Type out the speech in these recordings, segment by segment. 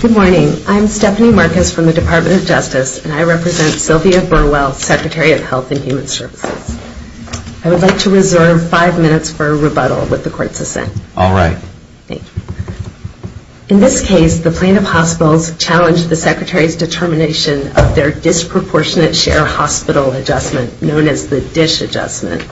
Good morning. I'm Stephanie Marcus from the Department of Justice, and I represent Sylvia Burwell, Secretary of Health and Human Services. I would like to reserve five minutes for a rebuttal with the court's assent. All right. Thank you. In this case, the Plaintiff Hospitals challenged the Secretary's determination of their Disproportionate Share Hospital Adjustment, known as the DISH Adjustment.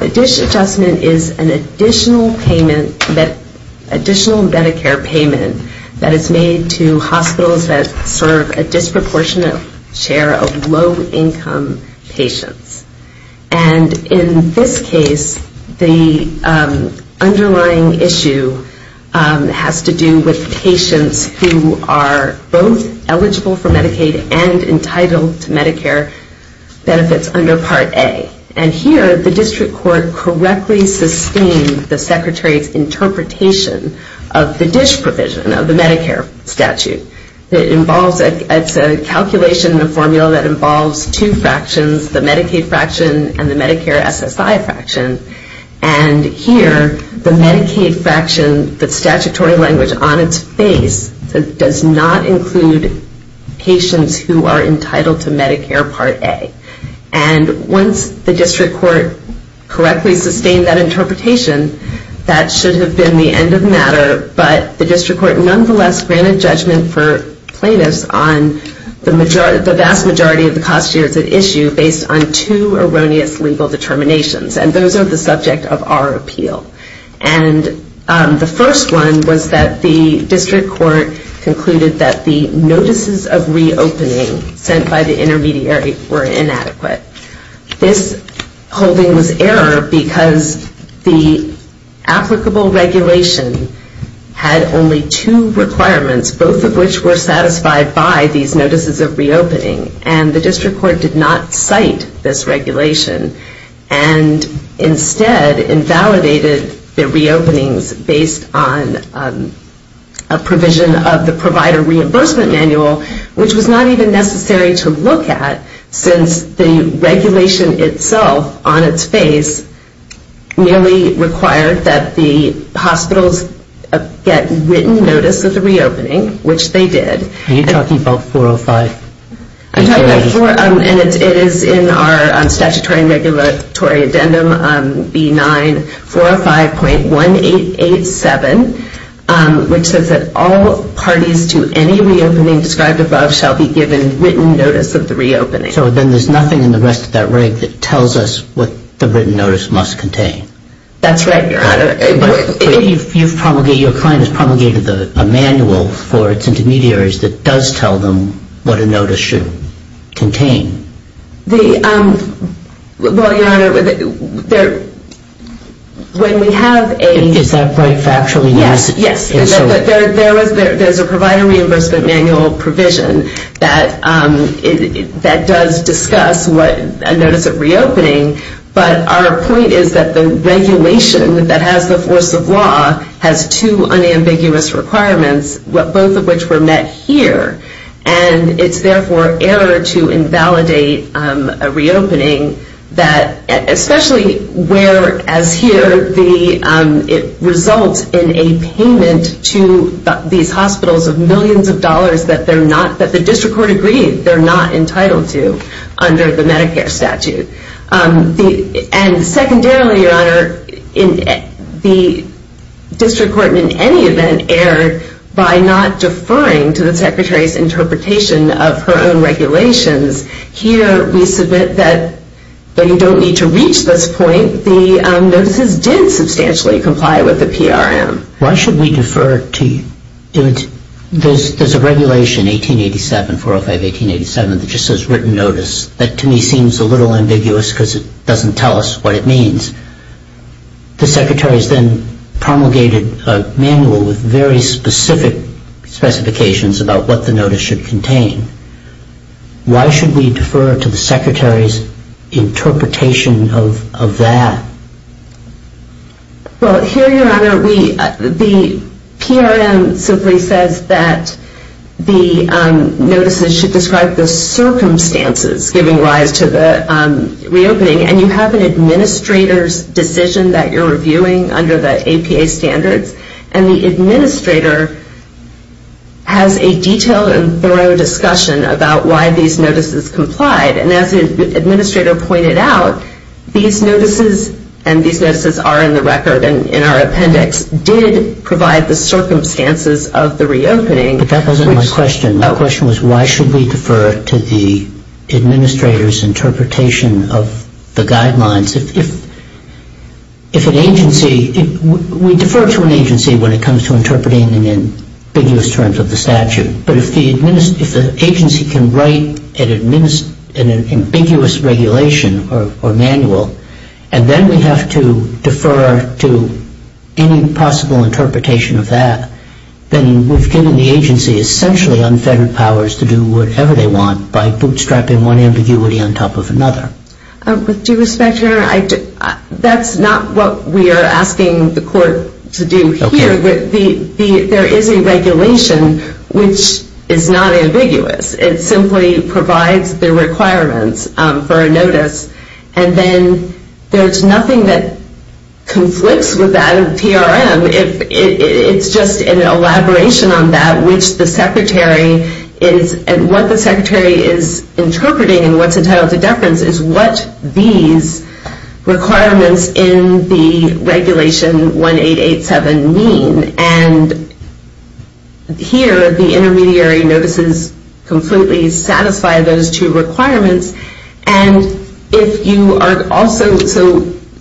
The DISH Adjustment is an additional payment, additional Medicare payment that is made to hospitals that serve a disproportionate share of low-income patients. And in this case, the underlying issue has to do with patients who are both eligible for Medicaid and entitled to Medicare benefits under Part A. And here, the District Court correctly sustained the Secretary's interpretation of the DISH provision of the Medicare statute. It involves, it's a calculation, a formula that involves two fractions, the Medicaid fraction and the Medicare SSI fraction. And here, the Medicaid fraction, the statutory language on its face, does not include patients who are entitled to Medicare Part A. And once the District Court correctly sustained that interpretation, that should have been the end of the matter, but the District Court nonetheless granted judgment for plaintiffs on the vast majority of the cost shares at issue based on two erroneous legal determinations. And those are the subject of our appeal. And the first one was that the District Court concluded that the notices of reopening sent by the intermediary were inadequate. This holding was error because the applicable regulation had only two requirements, both of which were satisfied by these notices of reopening. And the District Court did not cite this regulation and instead invalidated the reopenings based on a provision of the provider reimbursement manual, which was not even necessary to look at since the regulation itself on its face merely required that the hospitals get written notice of the reopening, which they did. Are you talking about 405? I'm talking about 405, and it is in our statutory and regulatory addendum, B9405.1887, which says that all parties to any reopening described above shall be given written notice of the reopening. So then there's nothing in the rest of that reg that tells us what the written notice must contain. That's right, Your Honor. But you've promulgated, your client has promulgated a manual for its intermediaries that does not tell them what a notice should contain. Well, Your Honor, when we have a... Is that right factually? Yes. Yes. There's a provider reimbursement manual provision that does discuss what a notice of reopening, but our point is that the regulation that has the force of law has two unambiguous requirements, both of which were met here, and it's therefore error to invalidate a reopening that, especially where, as here, it results in a payment to these hospitals of millions of dollars that they're not, that the district court agreed they're not entitled to under the Medicare statute. And secondarily, Your Honor, the district court in any event erred by not deferring to the secretary's interpretation of her own regulations. Here, we submit that you don't need to reach this point. The notices did substantially comply with the PRM. Why should we defer to... There's a regulation, 1887, 405-1887, that just says written notice. That, to me, seems a little ambiguous because it doesn't tell us what it means. The secretary's then promulgated a manual with very specific specifications about what the notice should contain. Why should we defer to the secretary's interpretation of that? Well, here, Your Honor, we... the notices should describe the circumstances giving rise to the reopening, and you have an administrator's decision that you're reviewing under the APA standards, and the administrator has a detailed and thorough discussion about why these notices complied. And as the administrator pointed out, these notices, and these notices are in the My question was, why should we defer to the administrator's interpretation of the guidelines? If an agency... We defer to an agency when it comes to interpreting in ambiguous terms of the statute. But if the agency can write an ambiguous regulation or manual, and then we have to essentially unfettered powers to do whatever they want by bootstrapping one ambiguity on top of another. With due respect, Your Honor, that's not what we are asking the court to do here. Okay. There is a regulation which is not ambiguous. It simply provides the requirements for a notice, and then there's nothing that So there is a clause at which the secretary is... And what the secretary is interpreting and what's entitled to deference is what these requirements in the Regulation 1887 mean. And here, the intermediary notices completely satisfy those two requirements. And if you are also... So,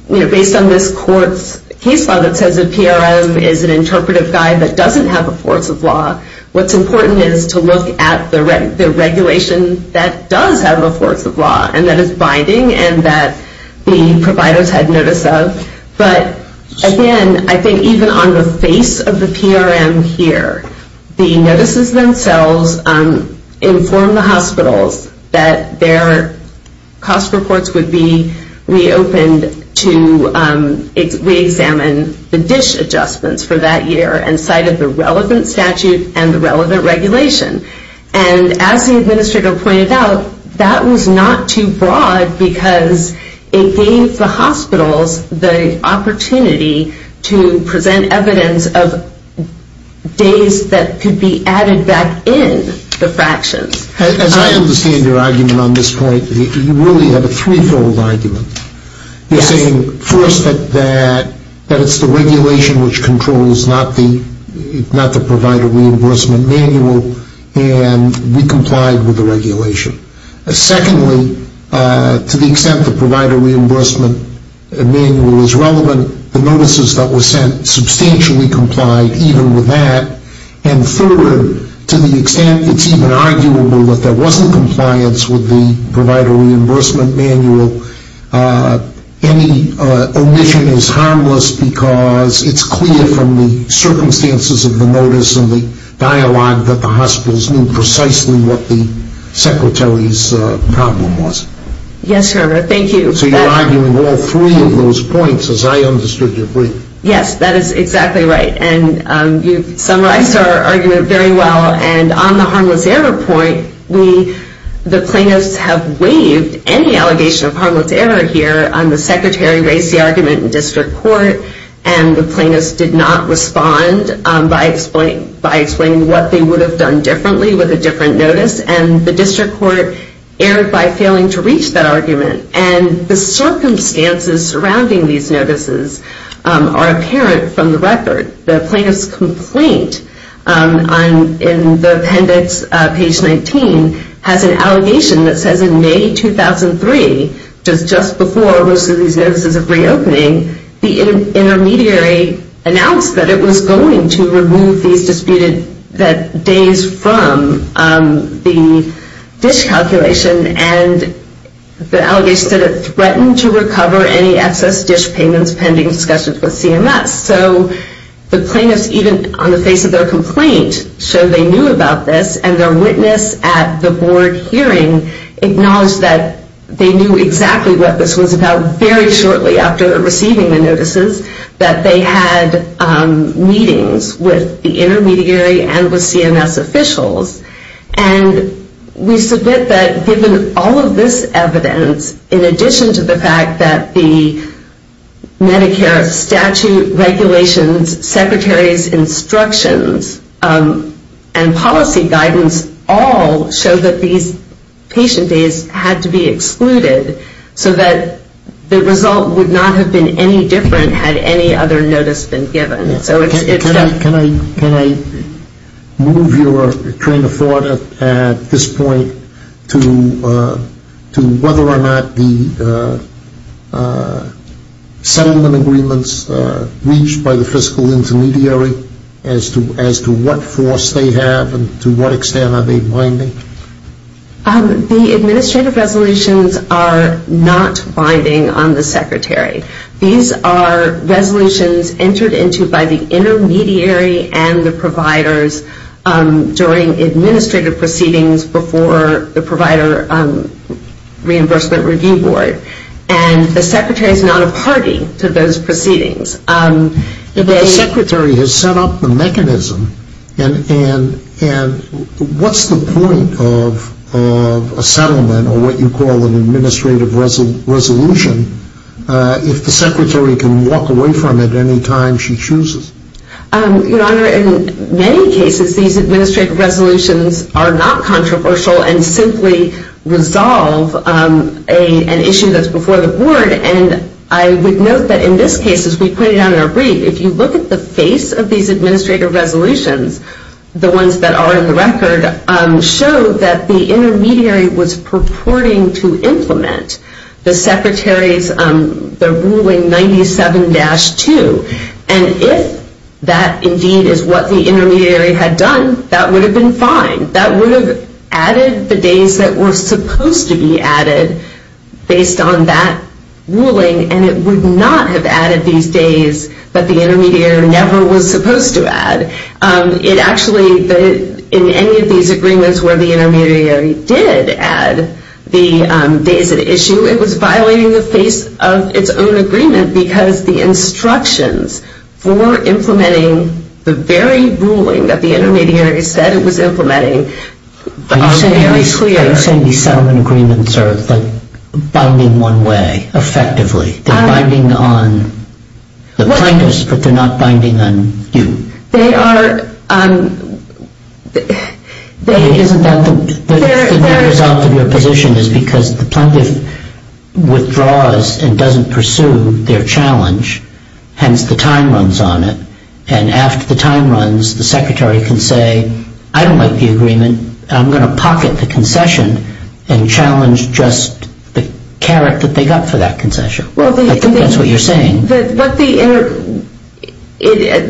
you know, based on this court's case law that says a PRM is an interpretive guide that doesn't have a force of law, what's important is to look at the regulation that does have a force of law and that is binding and that the providers had notice of. But again, I think even on the face of the PRM here, the notices themselves inform the hospitals that their cost reports would be reopened to reexamine the relevant statute and the relevant regulation. And as the administrator pointed out, that was not too broad because it gave the hospitals the opportunity to present evidence of days that could be added back in the fractions. As I understand your argument on this point, you really have a threefold argument. You're saying, first, that it's the regulation which controls, not the provider reimbursement manual, and we complied with the regulation. Secondly, to the extent the provider reimbursement manual is relevant, the notices that were sent substantially complied even with that. And third, to the extent it's even arguable that there wasn't compliance with the provider reimbursement manual, any omission is harmless because it's clear from the circumstances of the notice and the dialogue that the hospitals knew precisely what the secretary's problem was. Yes, sir. Thank you. So you're arguing all three of those points, as I understood your brief. Yes, that is exactly right. And you've summarized our argument very well. And on the harmless error point, the plaintiffs have waived any allegation of harmless error here. The secretary raised the argument in district court, and the plaintiffs did not respond by explaining what they would have done differently with a different notice. And the district court erred by failing to reach that argument. And the circumstances surrounding these notices are apparent from the record. The plaintiff's complaint in the appendix, page 19, has an allegation that says in May 2003, just before most of these notices are reopening, the intermediary announced that it was going to remove these disputed days from the dish calculation, and the allegation said it threatened to recover any excess dish payments pending discussions with CMS. So the plaintiffs, even on the face of their complaint, showed they knew about this, and their witness at the board hearing acknowledged that they knew exactly what this was about very shortly after receiving the notices, that they had meetings with the intermediary and with CMS officials. And we submit that given all of this evidence, in addition to the fact that the Medicare statute regulations, secretary's instructions, and policy guidance all show that these patient days had to be excluded so that the result would not have been any different had any other notice been given. Can I move your train of thought at this point to whether or not the settlement agreements reached by the fiscal intermediary as to what force they have and to what extent are they binding? The administrative resolutions are not binding on the secretary. These are resolutions entered into by the intermediary and the providers during administrative proceedings before the provider reimbursement review board, and the secretary is not a party to those proceedings. The secretary has set up the mechanism, and what's the point of a settlement agreement or what you call an administrative resolution if the secretary can walk away from it any time she chooses? Your Honor, in many cases, these administrative resolutions are not controversial and simply resolve an issue that's before the board, and I would note that in this case, as we pointed out in our brief, if you look at the face of these administrative resolutions, the ones that are in the record show that the intermediary was purporting to implement the secretary's ruling 97-2, and if that indeed is what the intermediary had done, that would have been fine. That would have added the days that were supposed to be added based on that ruling, and it would not have added these days that the intermediary never was supposed to add. It actually, in any of these agreements where the intermediary did add the days at issue, it was violating the face of its own agreement because the instructions for implementing the very ruling that the intermediary said it was implementing are very clear. Are you saying these settlement agreements are binding one way, effectively? They're binding on the plaintiffs, but they're not binding on you? They are. Isn't that the result of your position is because the plaintiff withdraws and doesn't pursue their challenge, hence the time runs on it, and after the time runs, the secretary can say, I don't like the agreement. I'm going to pocket the concession and challenge just the carrot that they got for that concession. I think that's what you're saying. But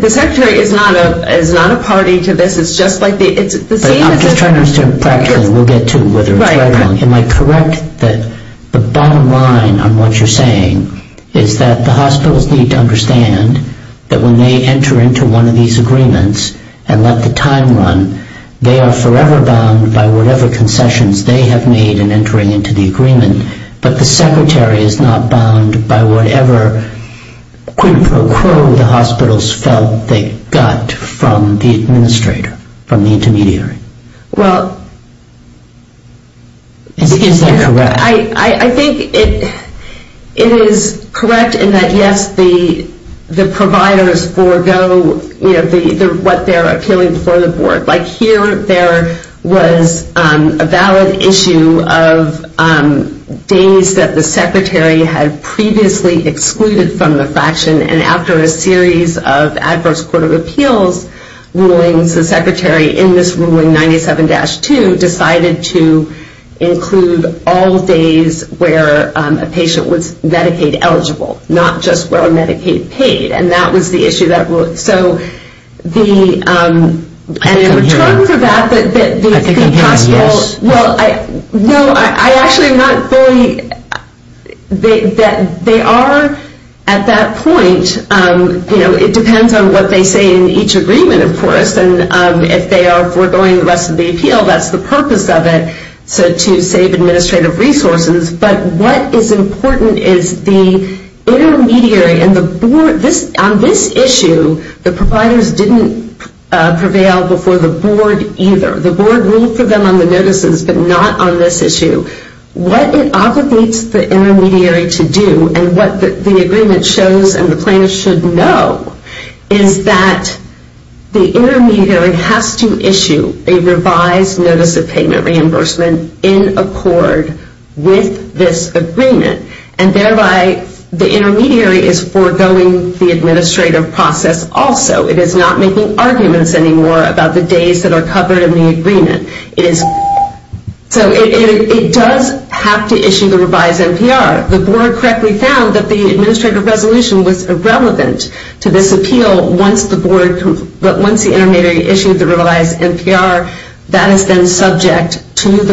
the secretary is not a party to this. It's just like the same as a- I'm just trying to understand practically. We'll get to whether it's right or wrong. Am I correct that the bottom line on what you're saying is that the hospitals need to understand that when they enter into one of these agreements and let the time run, they are forever bound by whatever concessions they have made in entering into the agreement, but the secretary is not bound by whatever quid pro quo the hospitals felt they got from the administrator, from the intermediary? Well- Is that correct? I think it is correct in that, yes, the providers forego what they're appealing before the board. Like here there was a valid issue of days that the secretary had previously excluded from the fraction, and after a series of adverse court of appeals rulings, the secretary in this ruling 97-2 decided to include all days where a patient was Medicaid eligible, not just where Medicaid paid. And that was the issue. So the- I couldn't hear you. In return for that- I couldn't hear you, yes. Well, no, I actually am not fully- they are at that point, you know, it depends on what they say in each agreement, of course, and if they are foregoing the rest of the appeal, that's the purpose of it, so to save administrative resources. But what is important is the intermediary and the board- on this issue, the providers didn't prevail before the board either. The board ruled for them on the notices, but not on this issue. What it obligates the intermediary to do, and what the agreement shows and the plaintiffs should know, is that the intermediary has to issue a revised NPR with this agreement. And thereby, the intermediary is foregoing the administrative process also. It is not making arguments anymore about the days that are covered in the agreement. It is- so it does have to issue the revised NPR. The board correctly found that the administrative resolution was irrelevant to this appeal once the board- once the intermediary issued the NPR. It is not making arguments anymore about the days and all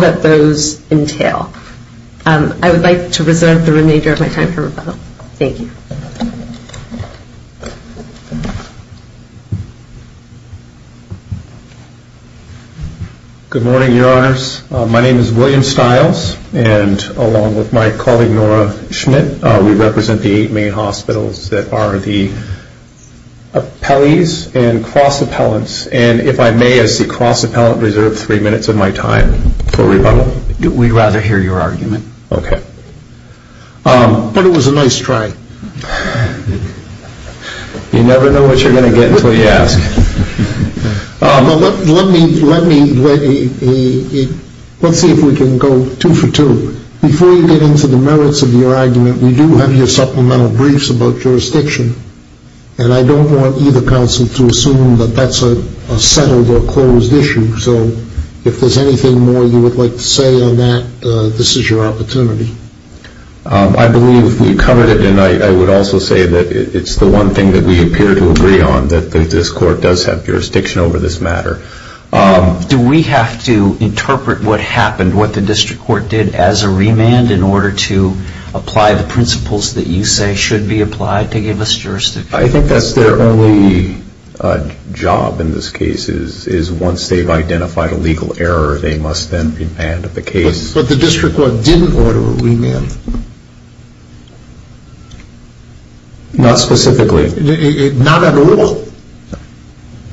that those entail. I would like to reserve the remainder of my time for rebuttal. Thank you. William Stiles. Good morning, Your Honors. My name is William Stiles, and along with my colleague, Nora Schmidt, we represent the eight main hospitals that are the appellees and cross appellants. And if I may, as the cross appellant, reserve three minutes of my time. We'd rather hear your argument. Okay. But it was a nice try. You never know what you're going to get until you ask. Let me- let me- let's see if we can go two for two. Before you get into the merits of your argument, we do have your supplemental briefs about jurisdiction. And I don't want either counsel to assume that that's a settled or Thank you. Thank you. Thank you. Thank you. Thank you. Thank you. Thank you. Thank you. Thank you. Thank you. Thank you. I get to that. Uh, is there any more you would like to say on that? This is your opportunity. Um, I believe we've covered it and I- I would also say that- it's the one thing that we appear to agree on, that this court does have jurisdiction over this matter. Um- Do we have to interpret what happened, with the district court did as a remand, in order to apply the principles that you say should be applied to give us jurisdiction? I think that's their only job in this case, is- is once they've been remanded the case- But the district court didn't order a remand. Not specifically. Not at all.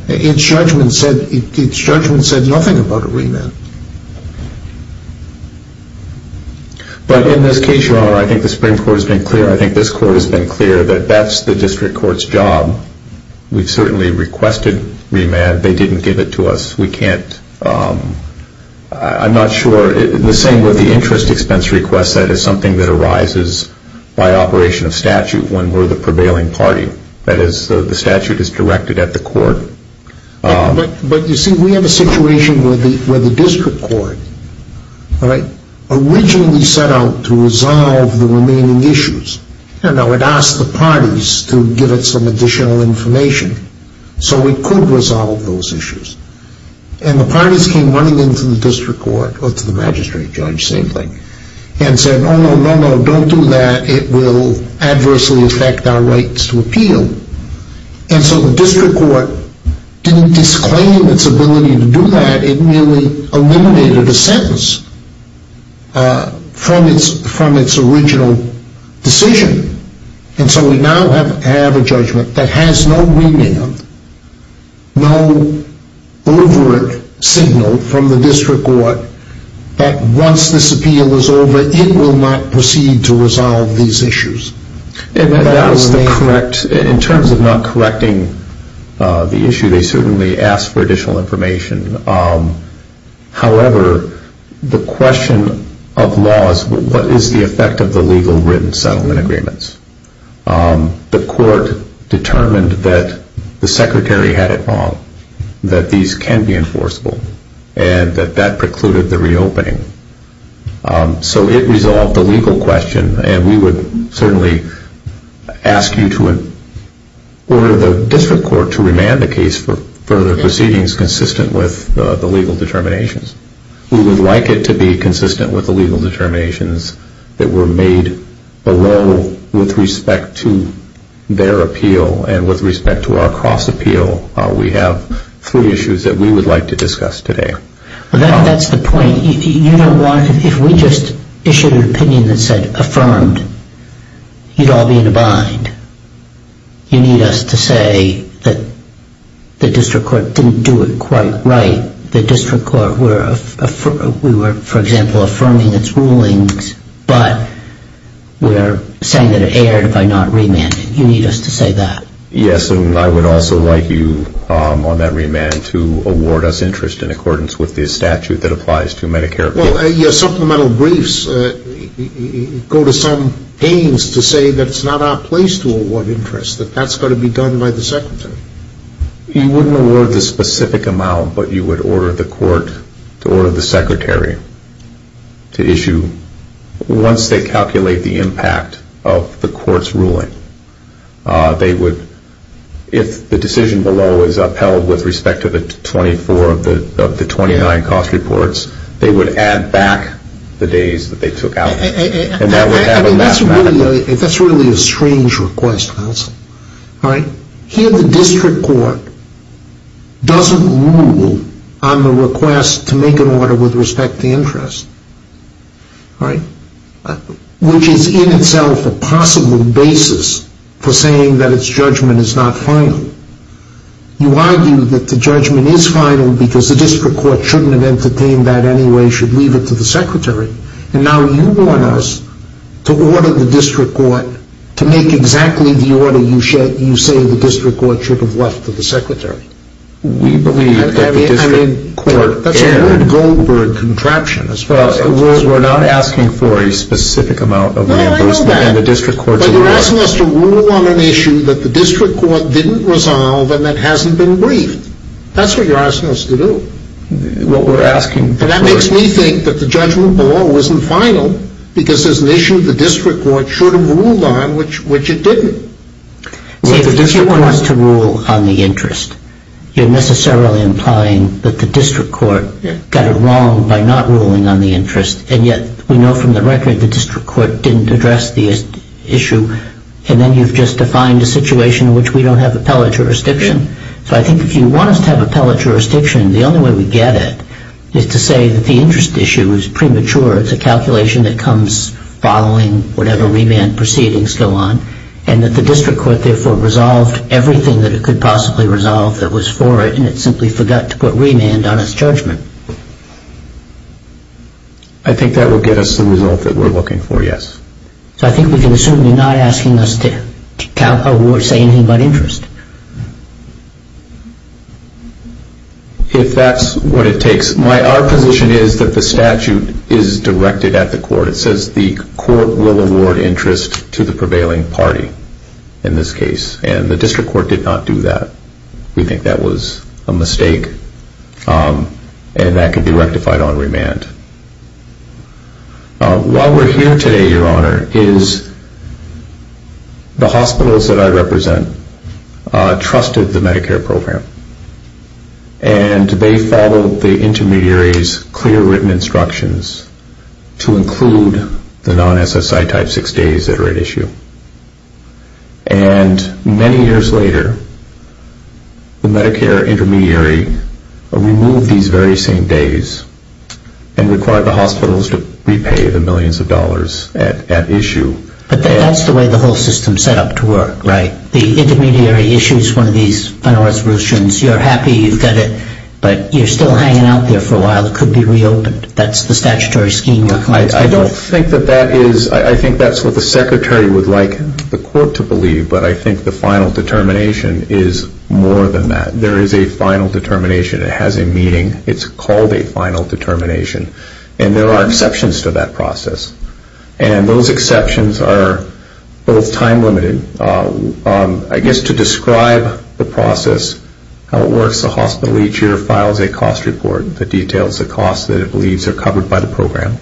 Its judgment said- its judgment said nothing about a remand. But in this case, your honor, I think the supreme court has been clear- I think this court has been clear that that's the district court's job. We've certainly requested remand. They didn't give it to us. We can't, um- I'm not sure- the same with the interest expense request, that is something that arises by operation of statute when we're the prevailing party. That is, the statute is directed at the court. Um- But- but you see, we have a situation where the- where the district court, all right, originally set out to resolve the remaining issues. You know, it asked the parties to give it some additional information so it could resolve those issues. And the parties came running into the district court- or to the magistrate judge, same thing- and said, oh no, no, no, don't do that. It will adversely affect our rights to appeal. And so the district court didn't disclaim its ability to do that. It merely eliminated a sentence from its- from its original decision. And so we now have- have a judgment that has no remand, no overt signal from the district court that once this appeal is over, it will not proceed to resolve these issues. And that was the correct- in terms of not correcting the issue, they certainly asked for additional information. Um- however, the question of law is what is the effect of the legal written settlement agreements? Um- the court determined that the secretary had it wrong, that these can be enforceable, and that that precluded the reopening. Um- so it resolved the legal question, and we would certainly ask you to- order the district court to remand the case for further proceedings consistent with the legal determinations. We would like it to be consistent with the legal determinations that were made below with respect to their appeal and with respect to our cross-appeal. We have three issues that we would like to discuss today. Well, that's the point. You don't want- if we just issued an opinion that said affirmed, you'd all be in a bind. You need us to say that the district court didn't do it quite right. The district court were- we were, for example, affirming its rulings, but we're saying that it erred by not remanding. You need us to say that. Yes, and I would also like you on that remand to award us interest in accordance with the statute that applies to Medicare- Well, your supplemental briefs go to some pains to say that it's not our place to award interest, that that's got to be done by the secretary. You wouldn't award the specific amount, but you would order the court to issue- once they calculate the impact of the court's ruling, they would- if the decision below is upheld with respect to the 24 of the 29 cost reports, they would add back the days that they took out. And that would have a last- I mean, that's really a strange request, counsel. All right? Here the district court doesn't rule on the request to make an order with respect to interest, which is in itself a possible basis for saying that its judgment is not final. You argue that the judgment is final because the district court shouldn't have entertained that anyway, should leave it to the secretary. And now you want us to order the district court to make exactly the order we believe that the district court- I mean, that's a weird Goldberg contraption as far as- We're not asking for a specific amount of reimbursement. No, I know that. And the district court's- But you're asking us to rule on an issue that the district court didn't resolve and that hasn't been briefed. That's what you're asking us to do. What we're asking for- And that makes me think that the judgment below isn't final because there's an issue the district court should have ruled on, which it didn't. See, if the district court wants to rule on the interest, you're necessarily implying that the district court got it wrong by not ruling on the interest, and yet we know from the record the district court didn't address the issue, and then you've just defined a situation in which we don't have appellate jurisdiction. So I think if you want us to have appellate jurisdiction, the only way we get it is to say that the interest issue is premature. It's a calculation that comes following whatever remand proceedings go on, and that the district court therefore resolved everything that it could possibly resolve that was for it, and it simply forgot to put remand on its judgment. I think that will get us the result that we're looking for, yes. So I think we can assume you're not asking us to say anything about interest. If that's what it takes. Our position is that the statute is directed at the court. It says the court will award interest to the prevailing party in this case, and the district court did not do that. We think that was a mistake, and that could be rectified on remand. Why we're here today, Your Honor, is the hospitals that I represent trusted the Medicare program, and they followed the intermediary's clear written instructions to include the non-SSI type six days that are at issue. And many years later, the Medicare intermediary removed these very same days and required the hospitals to repay the millions of dollars at issue. But that's the way the whole system is set up to work, right? The intermediary issues one of these final resolutions. You're happy you've got it, but you're still hanging out there for a while. It could be reopened. That's the statutory scheme. I don't think that that is. I think that's what the secretary would like the court to believe, but I think the final determination is more than that. There is a final determination. It has a meeting. It's called a final determination, and there are exceptions to that process. I guess to describe the process, how it works, the hospital each year files a cost report that details the cost that it believes are covered by the program.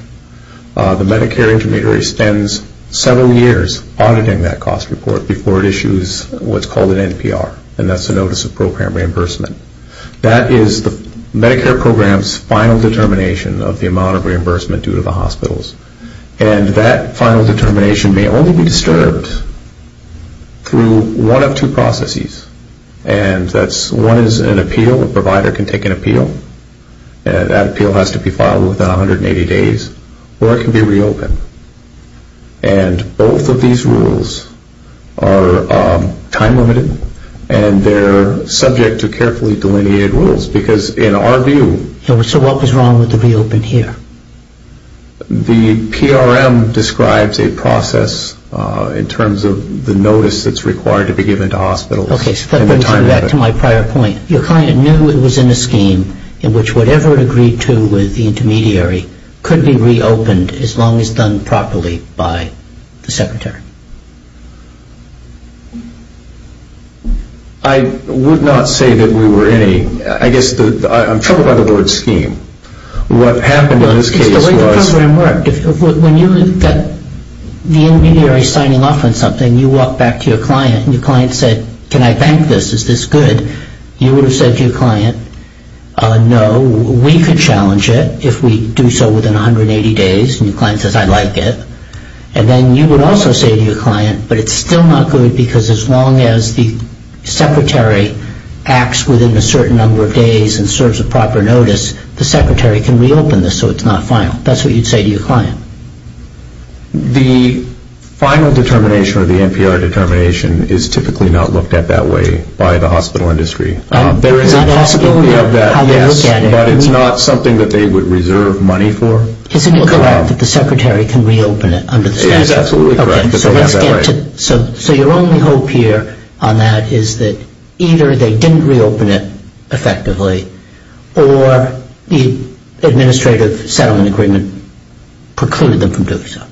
The Medicare intermediary spends several years auditing that cost report before it issues what's called an NPR, and that's a notice of program reimbursement. That is the Medicare program's final determination of the amount of reimbursement due to the hospitals. And that final determination may only be disturbed through one of two processes, and that's one is an appeal. A provider can take an appeal, and that appeal has to be filed within 180 days, or it can be reopened. And both of these rules are time-limited, and they're subject to carefully delineated rules because in our view. So what was wrong with the reopen here? The PRM describes a process in terms of the notice that's required to be given to hospitals in the time of it. Okay, so let me go back to my prior point. Your client knew it was in a scheme in which whatever it agreed to with the intermediary could be reopened as long as done properly by the secretary. I would not say that we were in a, I guess I'm troubled by the word scheme. What happened in this case was. It's the way the program worked. When you got the intermediary signing off on something, you walk back to your client, and your client said, can I thank this? Is this good? You would have said to your client, no, we could challenge it if we do so within 180 days, and your client says, I'd like it. And then you would also say to your client, but it's still not good because as long as the secretary acts within a certain number of days and serves a proper notice, the secretary can reopen this so it's not final. That's what you'd say to your client. The final determination or the NPR determination is typically not looked at that way by the hospital industry. There is a possibility of that, yes, but it's not something that they would reserve money for. Isn't it correct that the secretary can reopen it under the statute? It is absolutely correct. So let's get to. So your only hope here on that is that either they didn't reopen it effectively or the administrative settlement agreement precluded them from doing so.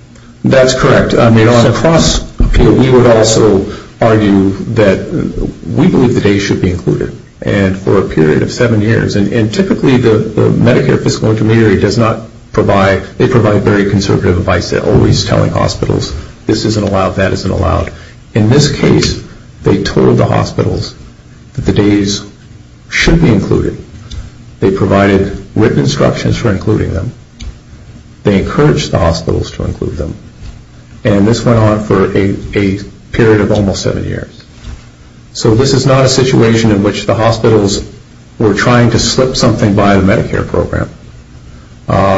That's correct. I mean, on a cross-appeal, we would also argue that we believe the days should be included, and for a period of seven years, and typically the Medicare fiscal intermediary does not provide, they provide very conservative advice. They're always telling hospitals this isn't allowed, that isn't allowed. In this case, they told the hospitals that the days should be included. They provided written instructions for including them. They encouraged the hospitals to include them, and this went on for a period of almost seven years. So this is not a situation in which the hospitals were trying to slip something by the Medicare program.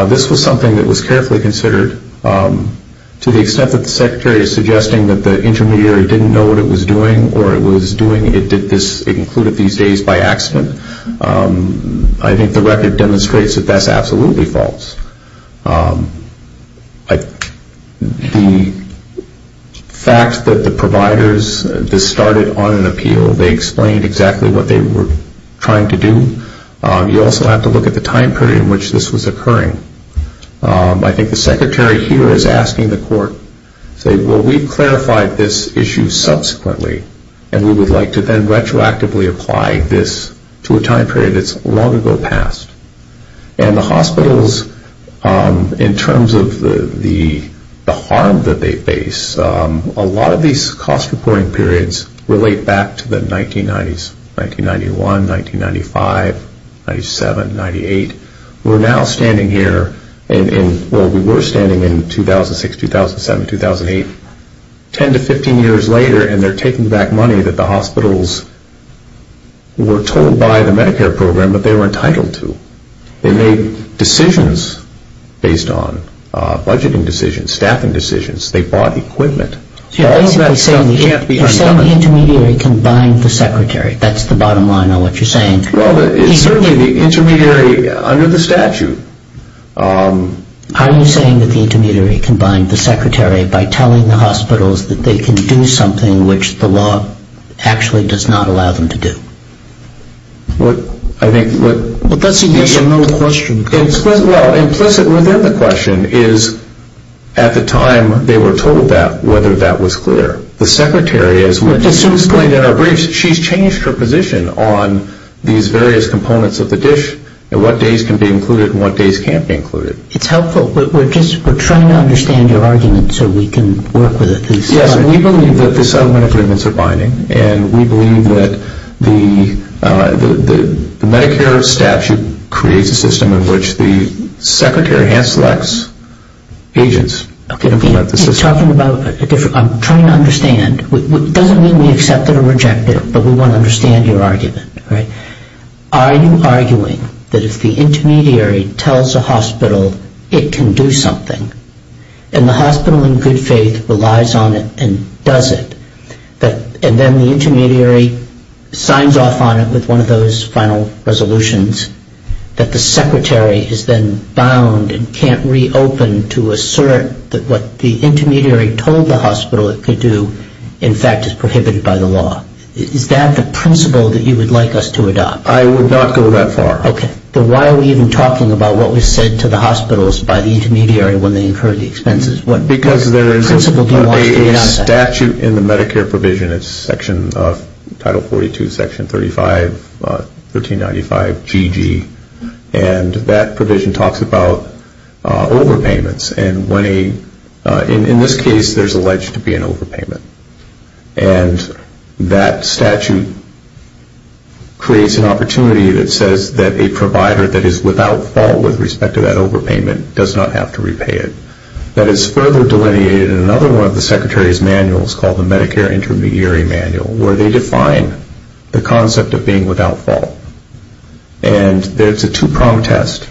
This was something that was carefully considered to the extent that the secretary is suggesting that the intermediary didn't know what it was doing, or it was doing, it did this, it included these days by accident. I think the record demonstrates that that's absolutely false. The fact that the providers, this started on an appeal, they explained exactly what they were trying to do. You also have to look at the time period in which this was occurring. I think the secretary here is asking the court, say, well, we've clarified this issue subsequently, and we would like to then retroactively apply this to a time period that's long ago past. And the hospitals, in terms of the harm that they face, a lot of these cost reporting periods relate back to the 1990s, 1991, 1995, 97, 98. We're now standing here in, well, we were standing in 2006, 2007, 2008, 10 to 15 years later, and they're taking back money that the hospitals were told by the Medicare program that they were entitled to. They made decisions based on budgeting decisions, staffing decisions. They bought equipment. All that stuff can't be undone. You're saying the intermediary combined the secretary. That's the bottom line on what you're saying. Well, it's certainly the intermediary under the statute. Are you saying that the intermediary combined the secretary by telling the hospitals that they can do something which the law actually does not allow them to do? Well, I think what... But that's implicit in the question. Well, implicit within the question is, at the time they were told that, whether that was clear. The secretary, as we've explained in our briefs, she's changed her position on these various components of the dish and what days can be included and what days can't be included. It's helpful. We're just trying to understand your argument so we can work with it. Yes, we believe that the settlement agreements are binding, and we believe that the Medicare statute creates a system in which the secretary hand-selects agents to implement the system. I'm trying to understand. It doesn't mean we accept it or reject it, but we want to understand your argument. Are you arguing that if the intermediary tells a hospital it can do something and the hospital in good faith relies on it and does it, and then the intermediary signs off on it with one of those final resolutions, that the secretary is then bound and can't reopen to assert that what the intermediary told the hospital it could do, in fact, is prohibited by the law? Is that the principle that you would like us to adopt? I would not go that far. Okay. Then why are we even talking about what was said to the hospitals by the intermediary when they incurred the expenses? Because there is a statute in the Medicare provision. It's Title 42, Section 35, 1395GG, and that provision talks about overpayments. In this case, there's alleged to be an overpayment, and that statute creates an opportunity that says that a provider that is without fault with respect to that overpayment does not have to repay it. That is further delineated in another one of the secretary's manuals called the Medicare Intermediary Manual, where they define the concept of being without fault. And there's a two-prong test.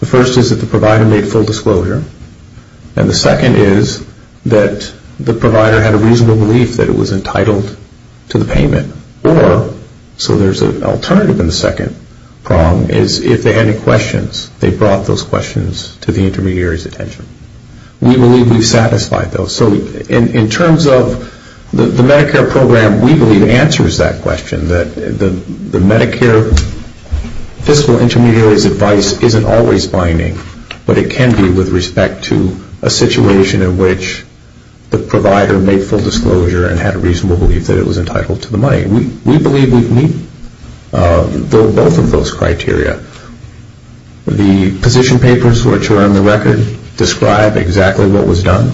The first is that the provider made full disclosure, and the second is that the provider had a reasonable belief that it was entitled to the payment. Or, so there's an alternative in the second prong, is if they had any questions, they brought those questions to the intermediary's attention. We believe we've satisfied those. So in terms of the Medicare program, we believe it answers that question, that the Medicare fiscal intermediary's advice isn't always binding, but it can be with respect to a situation in which the provider made full disclosure and had a reasonable belief that it was entitled to the money. We believe we meet both of those criteria. The position papers which are on the record describe exactly what was done.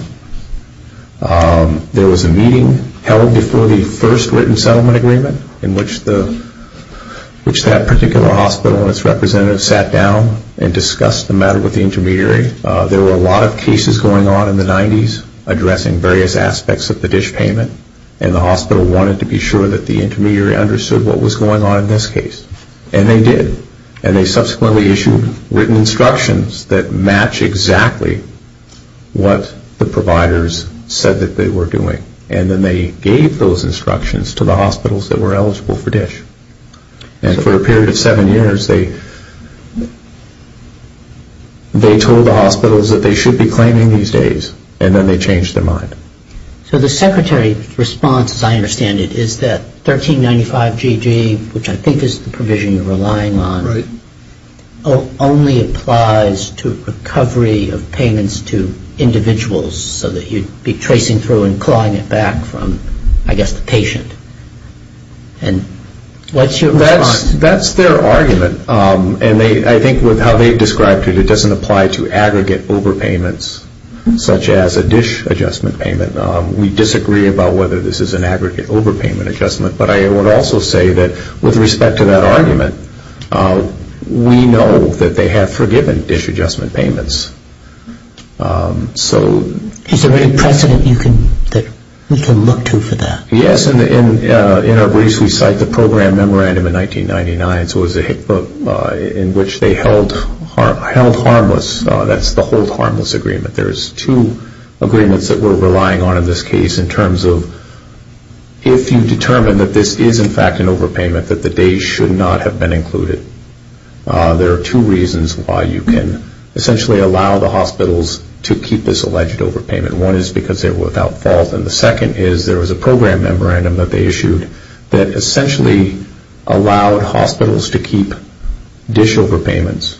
There was a meeting held before the first written settlement agreement in which that particular hospital and its representative sat down and discussed the matter with the intermediary. There were a lot of cases going on in the 90s addressing various aspects of the dish payment, and the hospital wanted to be sure that the intermediary understood what was going on in this case. And they did. And they subsequently issued written instructions that match exactly what the providers said that they were doing. And then they gave those instructions to the hospitals that were eligible for dish. And for a period of seven years, they told the hospitals that they should be claiming these days, and then they changed their mind. So the Secretary's response, as I understand it, is that 1395GG, which I think is the provision you're relying on, only applies to recovery of payments to individuals so that you'd be tracing through and clawing it back from, I guess, the patient. And what's your response? That's their argument. And I think with how they described it, it doesn't apply to aggregate overpayments such as a dish adjustment payment. We disagree about whether this is an aggregate overpayment adjustment, but I would also say that with respect to that argument, we know that they have forgiven dish adjustment payments. Is there any precedent that we can look to for that? Yes. In our briefs, we cite the program memorandum in 1999, in which they held harmless. That's the hold harmless agreement. There's two agreements that we're relying on in this case in terms of if you determine that this is, in fact, an overpayment, that the days should not have been included. There are two reasons why you can essentially allow the hospitals to keep this alleged overpayment. One is because they were without fault, and the second is there was a program memorandum that they issued that essentially allowed hospitals to keep dish overpayments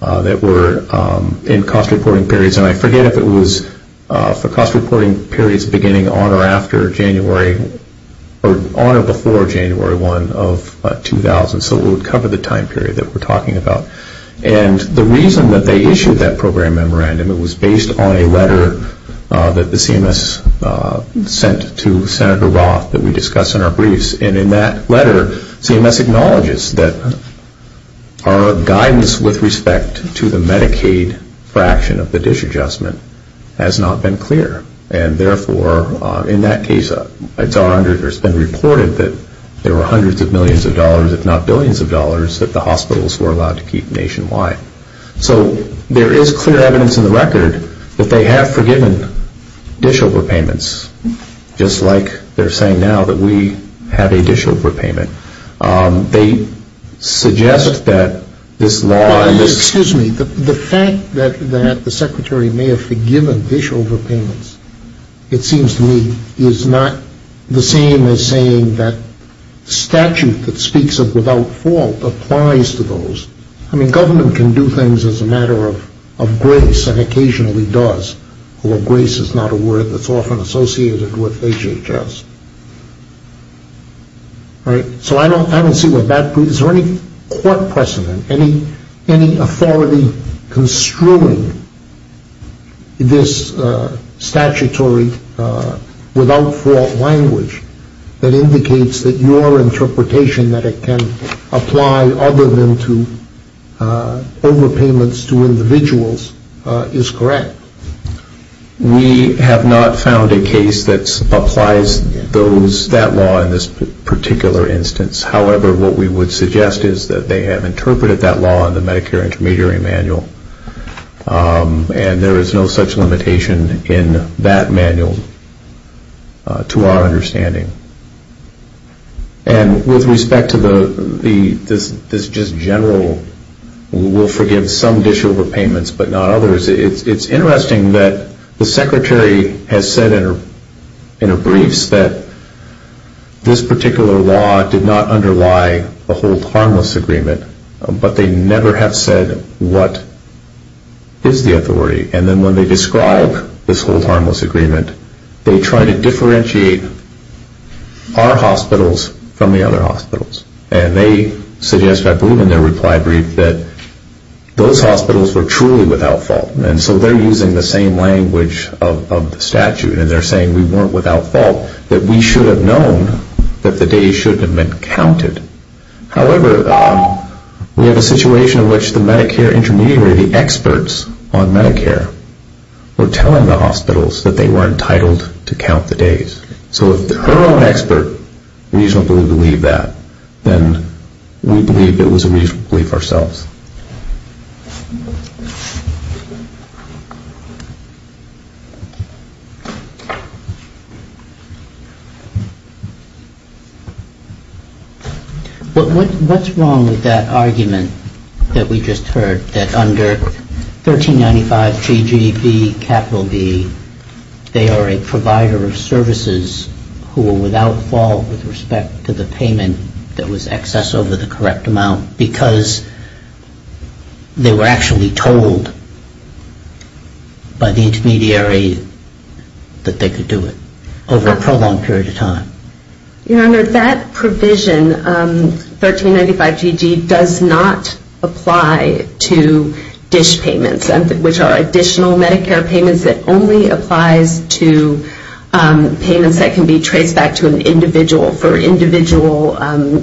that were in cost reporting periods. And I forget if it was for cost reporting periods beginning on or after January, or on or before January 1 of 2000, so it would cover the time period that we're talking about. And the reason that they issued that program memorandum, it was based on a letter that the CMS sent to Senator Roth that we discussed in our briefs. And in that letter, CMS acknowledges that our guidance with respect to the Medicaid fraction of the dish adjustment has not been clear, and therefore, in that case, it's been reported that there were hundreds of millions of dollars, if not billions of dollars, that the hospitals were allowed to keep nationwide. So there is clear evidence in the record that they have forgiven dish overpayments, just like they're saying now that we have a dish overpayment. They suggest that this law and this... Excuse me. The fact that the Secretary may have forgiven dish overpayments, it seems to me, is not the same as saying that statute that speaks of without fault applies to those. I mean, government can do things as a matter of grace and occasionally does, although grace is not a word that's often associated with HHS. Right? So I don't see what that... Is there any court precedent, any authority construing this statutory without fault language that indicates that your interpretation that it can apply other than to overpayments to individuals is correct? We have not found a case that applies that law in this particular instance. However, what we would suggest is that they have interpreted that law in the Medicare Intermediary Manual, and there is no such limitation in that manual to our understanding. And with respect to this just general we'll forgive some dish overpayments but not others, it's interesting that the Secretary has said in her briefs that this particular law did not underlie the but they never have said what is the authority. And then when they describe this whole harmless agreement, they try to differentiate our hospitals from the other hospitals. And they suggest, I believe in their reply brief, that those hospitals were truly without fault. And so they're using the same language of the statute, and they're saying we weren't without fault, that we should have known that the days shouldn't have been counted. However, we have a situation in which the Medicare Intermediary, the experts on Medicare, were telling the hospitals that they were entitled to count the days. So if her own expert reasonably believed that, then we believe it was a reasonable belief ourselves. What's wrong with that argument that we just heard, that under 1395 GGB, capital B, they are a provider of services who are without fault with respect to the payment that was excess over the correct amount because they are a provider of services that they were actually told by the intermediary that they could do it over a prolonged period of time. Your Honor, that provision, 1395 GG, does not apply to dish payments, which are additional Medicare payments that only applies to payments that can be traced back to an individual for individual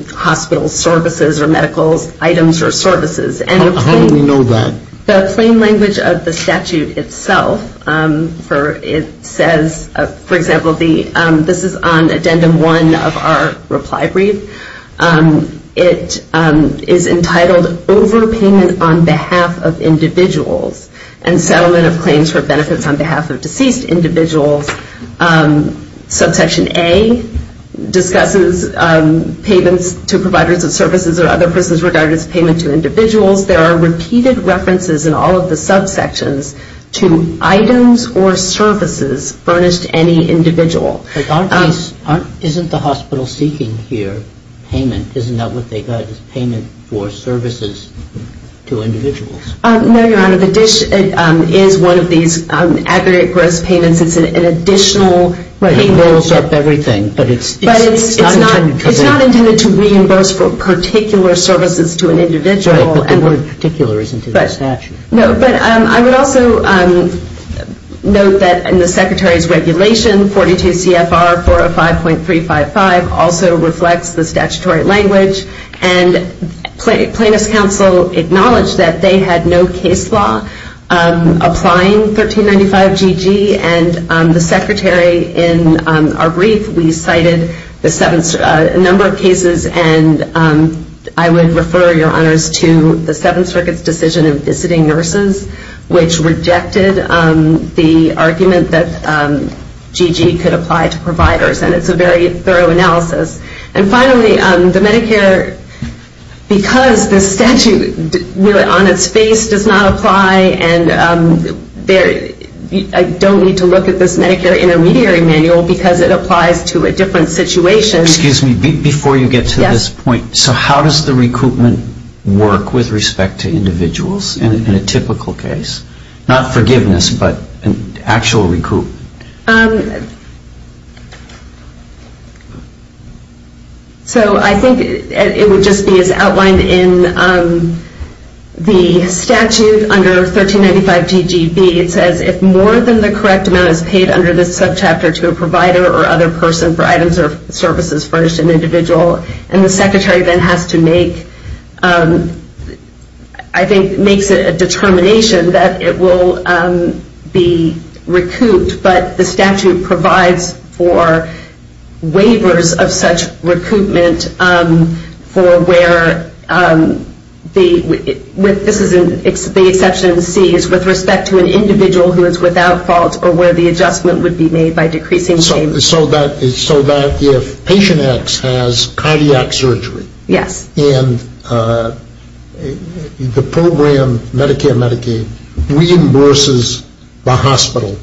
hospital services or medical items or services. How do we know that? The claim language of the statute itself, it says, for example, this is on Addendum 1 of our reply brief. It is entitled overpayment on behalf of individuals and settlement of claims for benefits on behalf of deceased individuals. Subsection A discusses payments to providers of services or other persons regarded as payment to individuals. There are repeated references in all of the subsections to items or services furnished to any individual. Isn't the hospital seeking here payment? Isn't that what they got, payment for services to individuals? No, Your Honor, the dish is one of these aggregate gross payments. It's an additional payment. It rolls up everything, but it's not intended to reimburse for particular services to an individual. But the word particular isn't in the statute. No, but I would also note that in the Secretary's regulation, 42 CFR 405.355 also reflects the statutory language and Plaintiff's Counsel acknowledged that they had no case law applying 1395GG and the Secretary in our brief, we cited a number of cases and I would refer, Your Honors, to the Seventh Circuit's decision of visiting nurses, which rejected the argument that GG could apply to providers and it's a very thorough analysis. And finally, the Medicare, because the statute on its face does not apply and I don't need to look at this Medicare intermediary manual because it applies to a different situation. Excuse me, before you get to this point, so how does the recoupment work with respect to individuals in a typical case? Not forgiveness, but actual recoup? So I think it would just be as outlined in the statute under 1395GGB. It says if more than the correct amount is paid under this subchapter to a provider or other person for items or services furnished to an individual, and the Secretary then has to make, I think makes a determination that it will be recouped by the state, but the statute provides for waivers of such recoupment for where the, this is the exception C, is with respect to an individual who is without fault or where the adjustment would be made by decreasing payment. So that if patient X has cardiac surgery. Yes. And the program, Medicare Medicaid, reimburses the hospital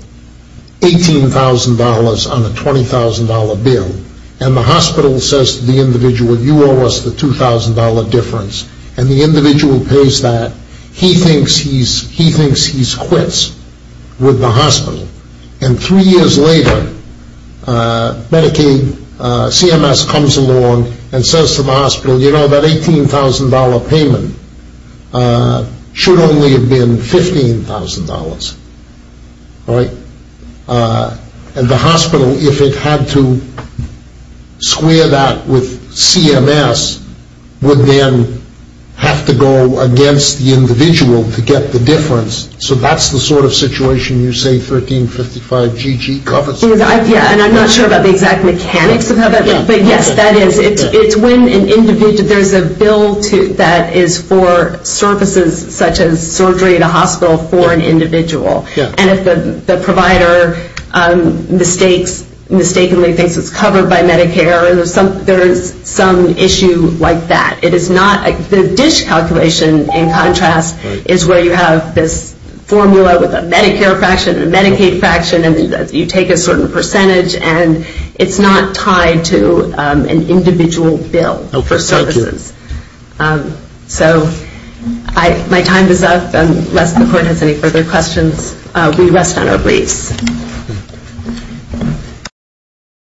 $18,000 on a $20,000 bill, and the hospital says to the individual, you owe us the $2,000 difference, and the individual pays that. He thinks he's quits with the hospital. And three years later, Medicaid CMS comes along and says to the hospital, you know, that $18,000 payment should only have been $15,000. All right? And the hospital, if it had to square that with CMS, would then have to go against the individual to get the difference. So that's the sort of situation you say 1355GG covers? Yeah, and I'm not sure about the exact mechanics of how that, but yes, that is, it's when an individual, there's a bill that is for services such as surgery at a hospital for an individual. And if the provider mistakes, mistakenly thinks it's covered by Medicare, there's some issue like that. It is not, the dish calculation, in contrast, is where you have this formula with a Medicare fraction and a Medicaid fraction, and you take a certain percentage, and it's not tied to an individual bill for services. So my time is up, unless the court has any further questions, we rest on our beliefs.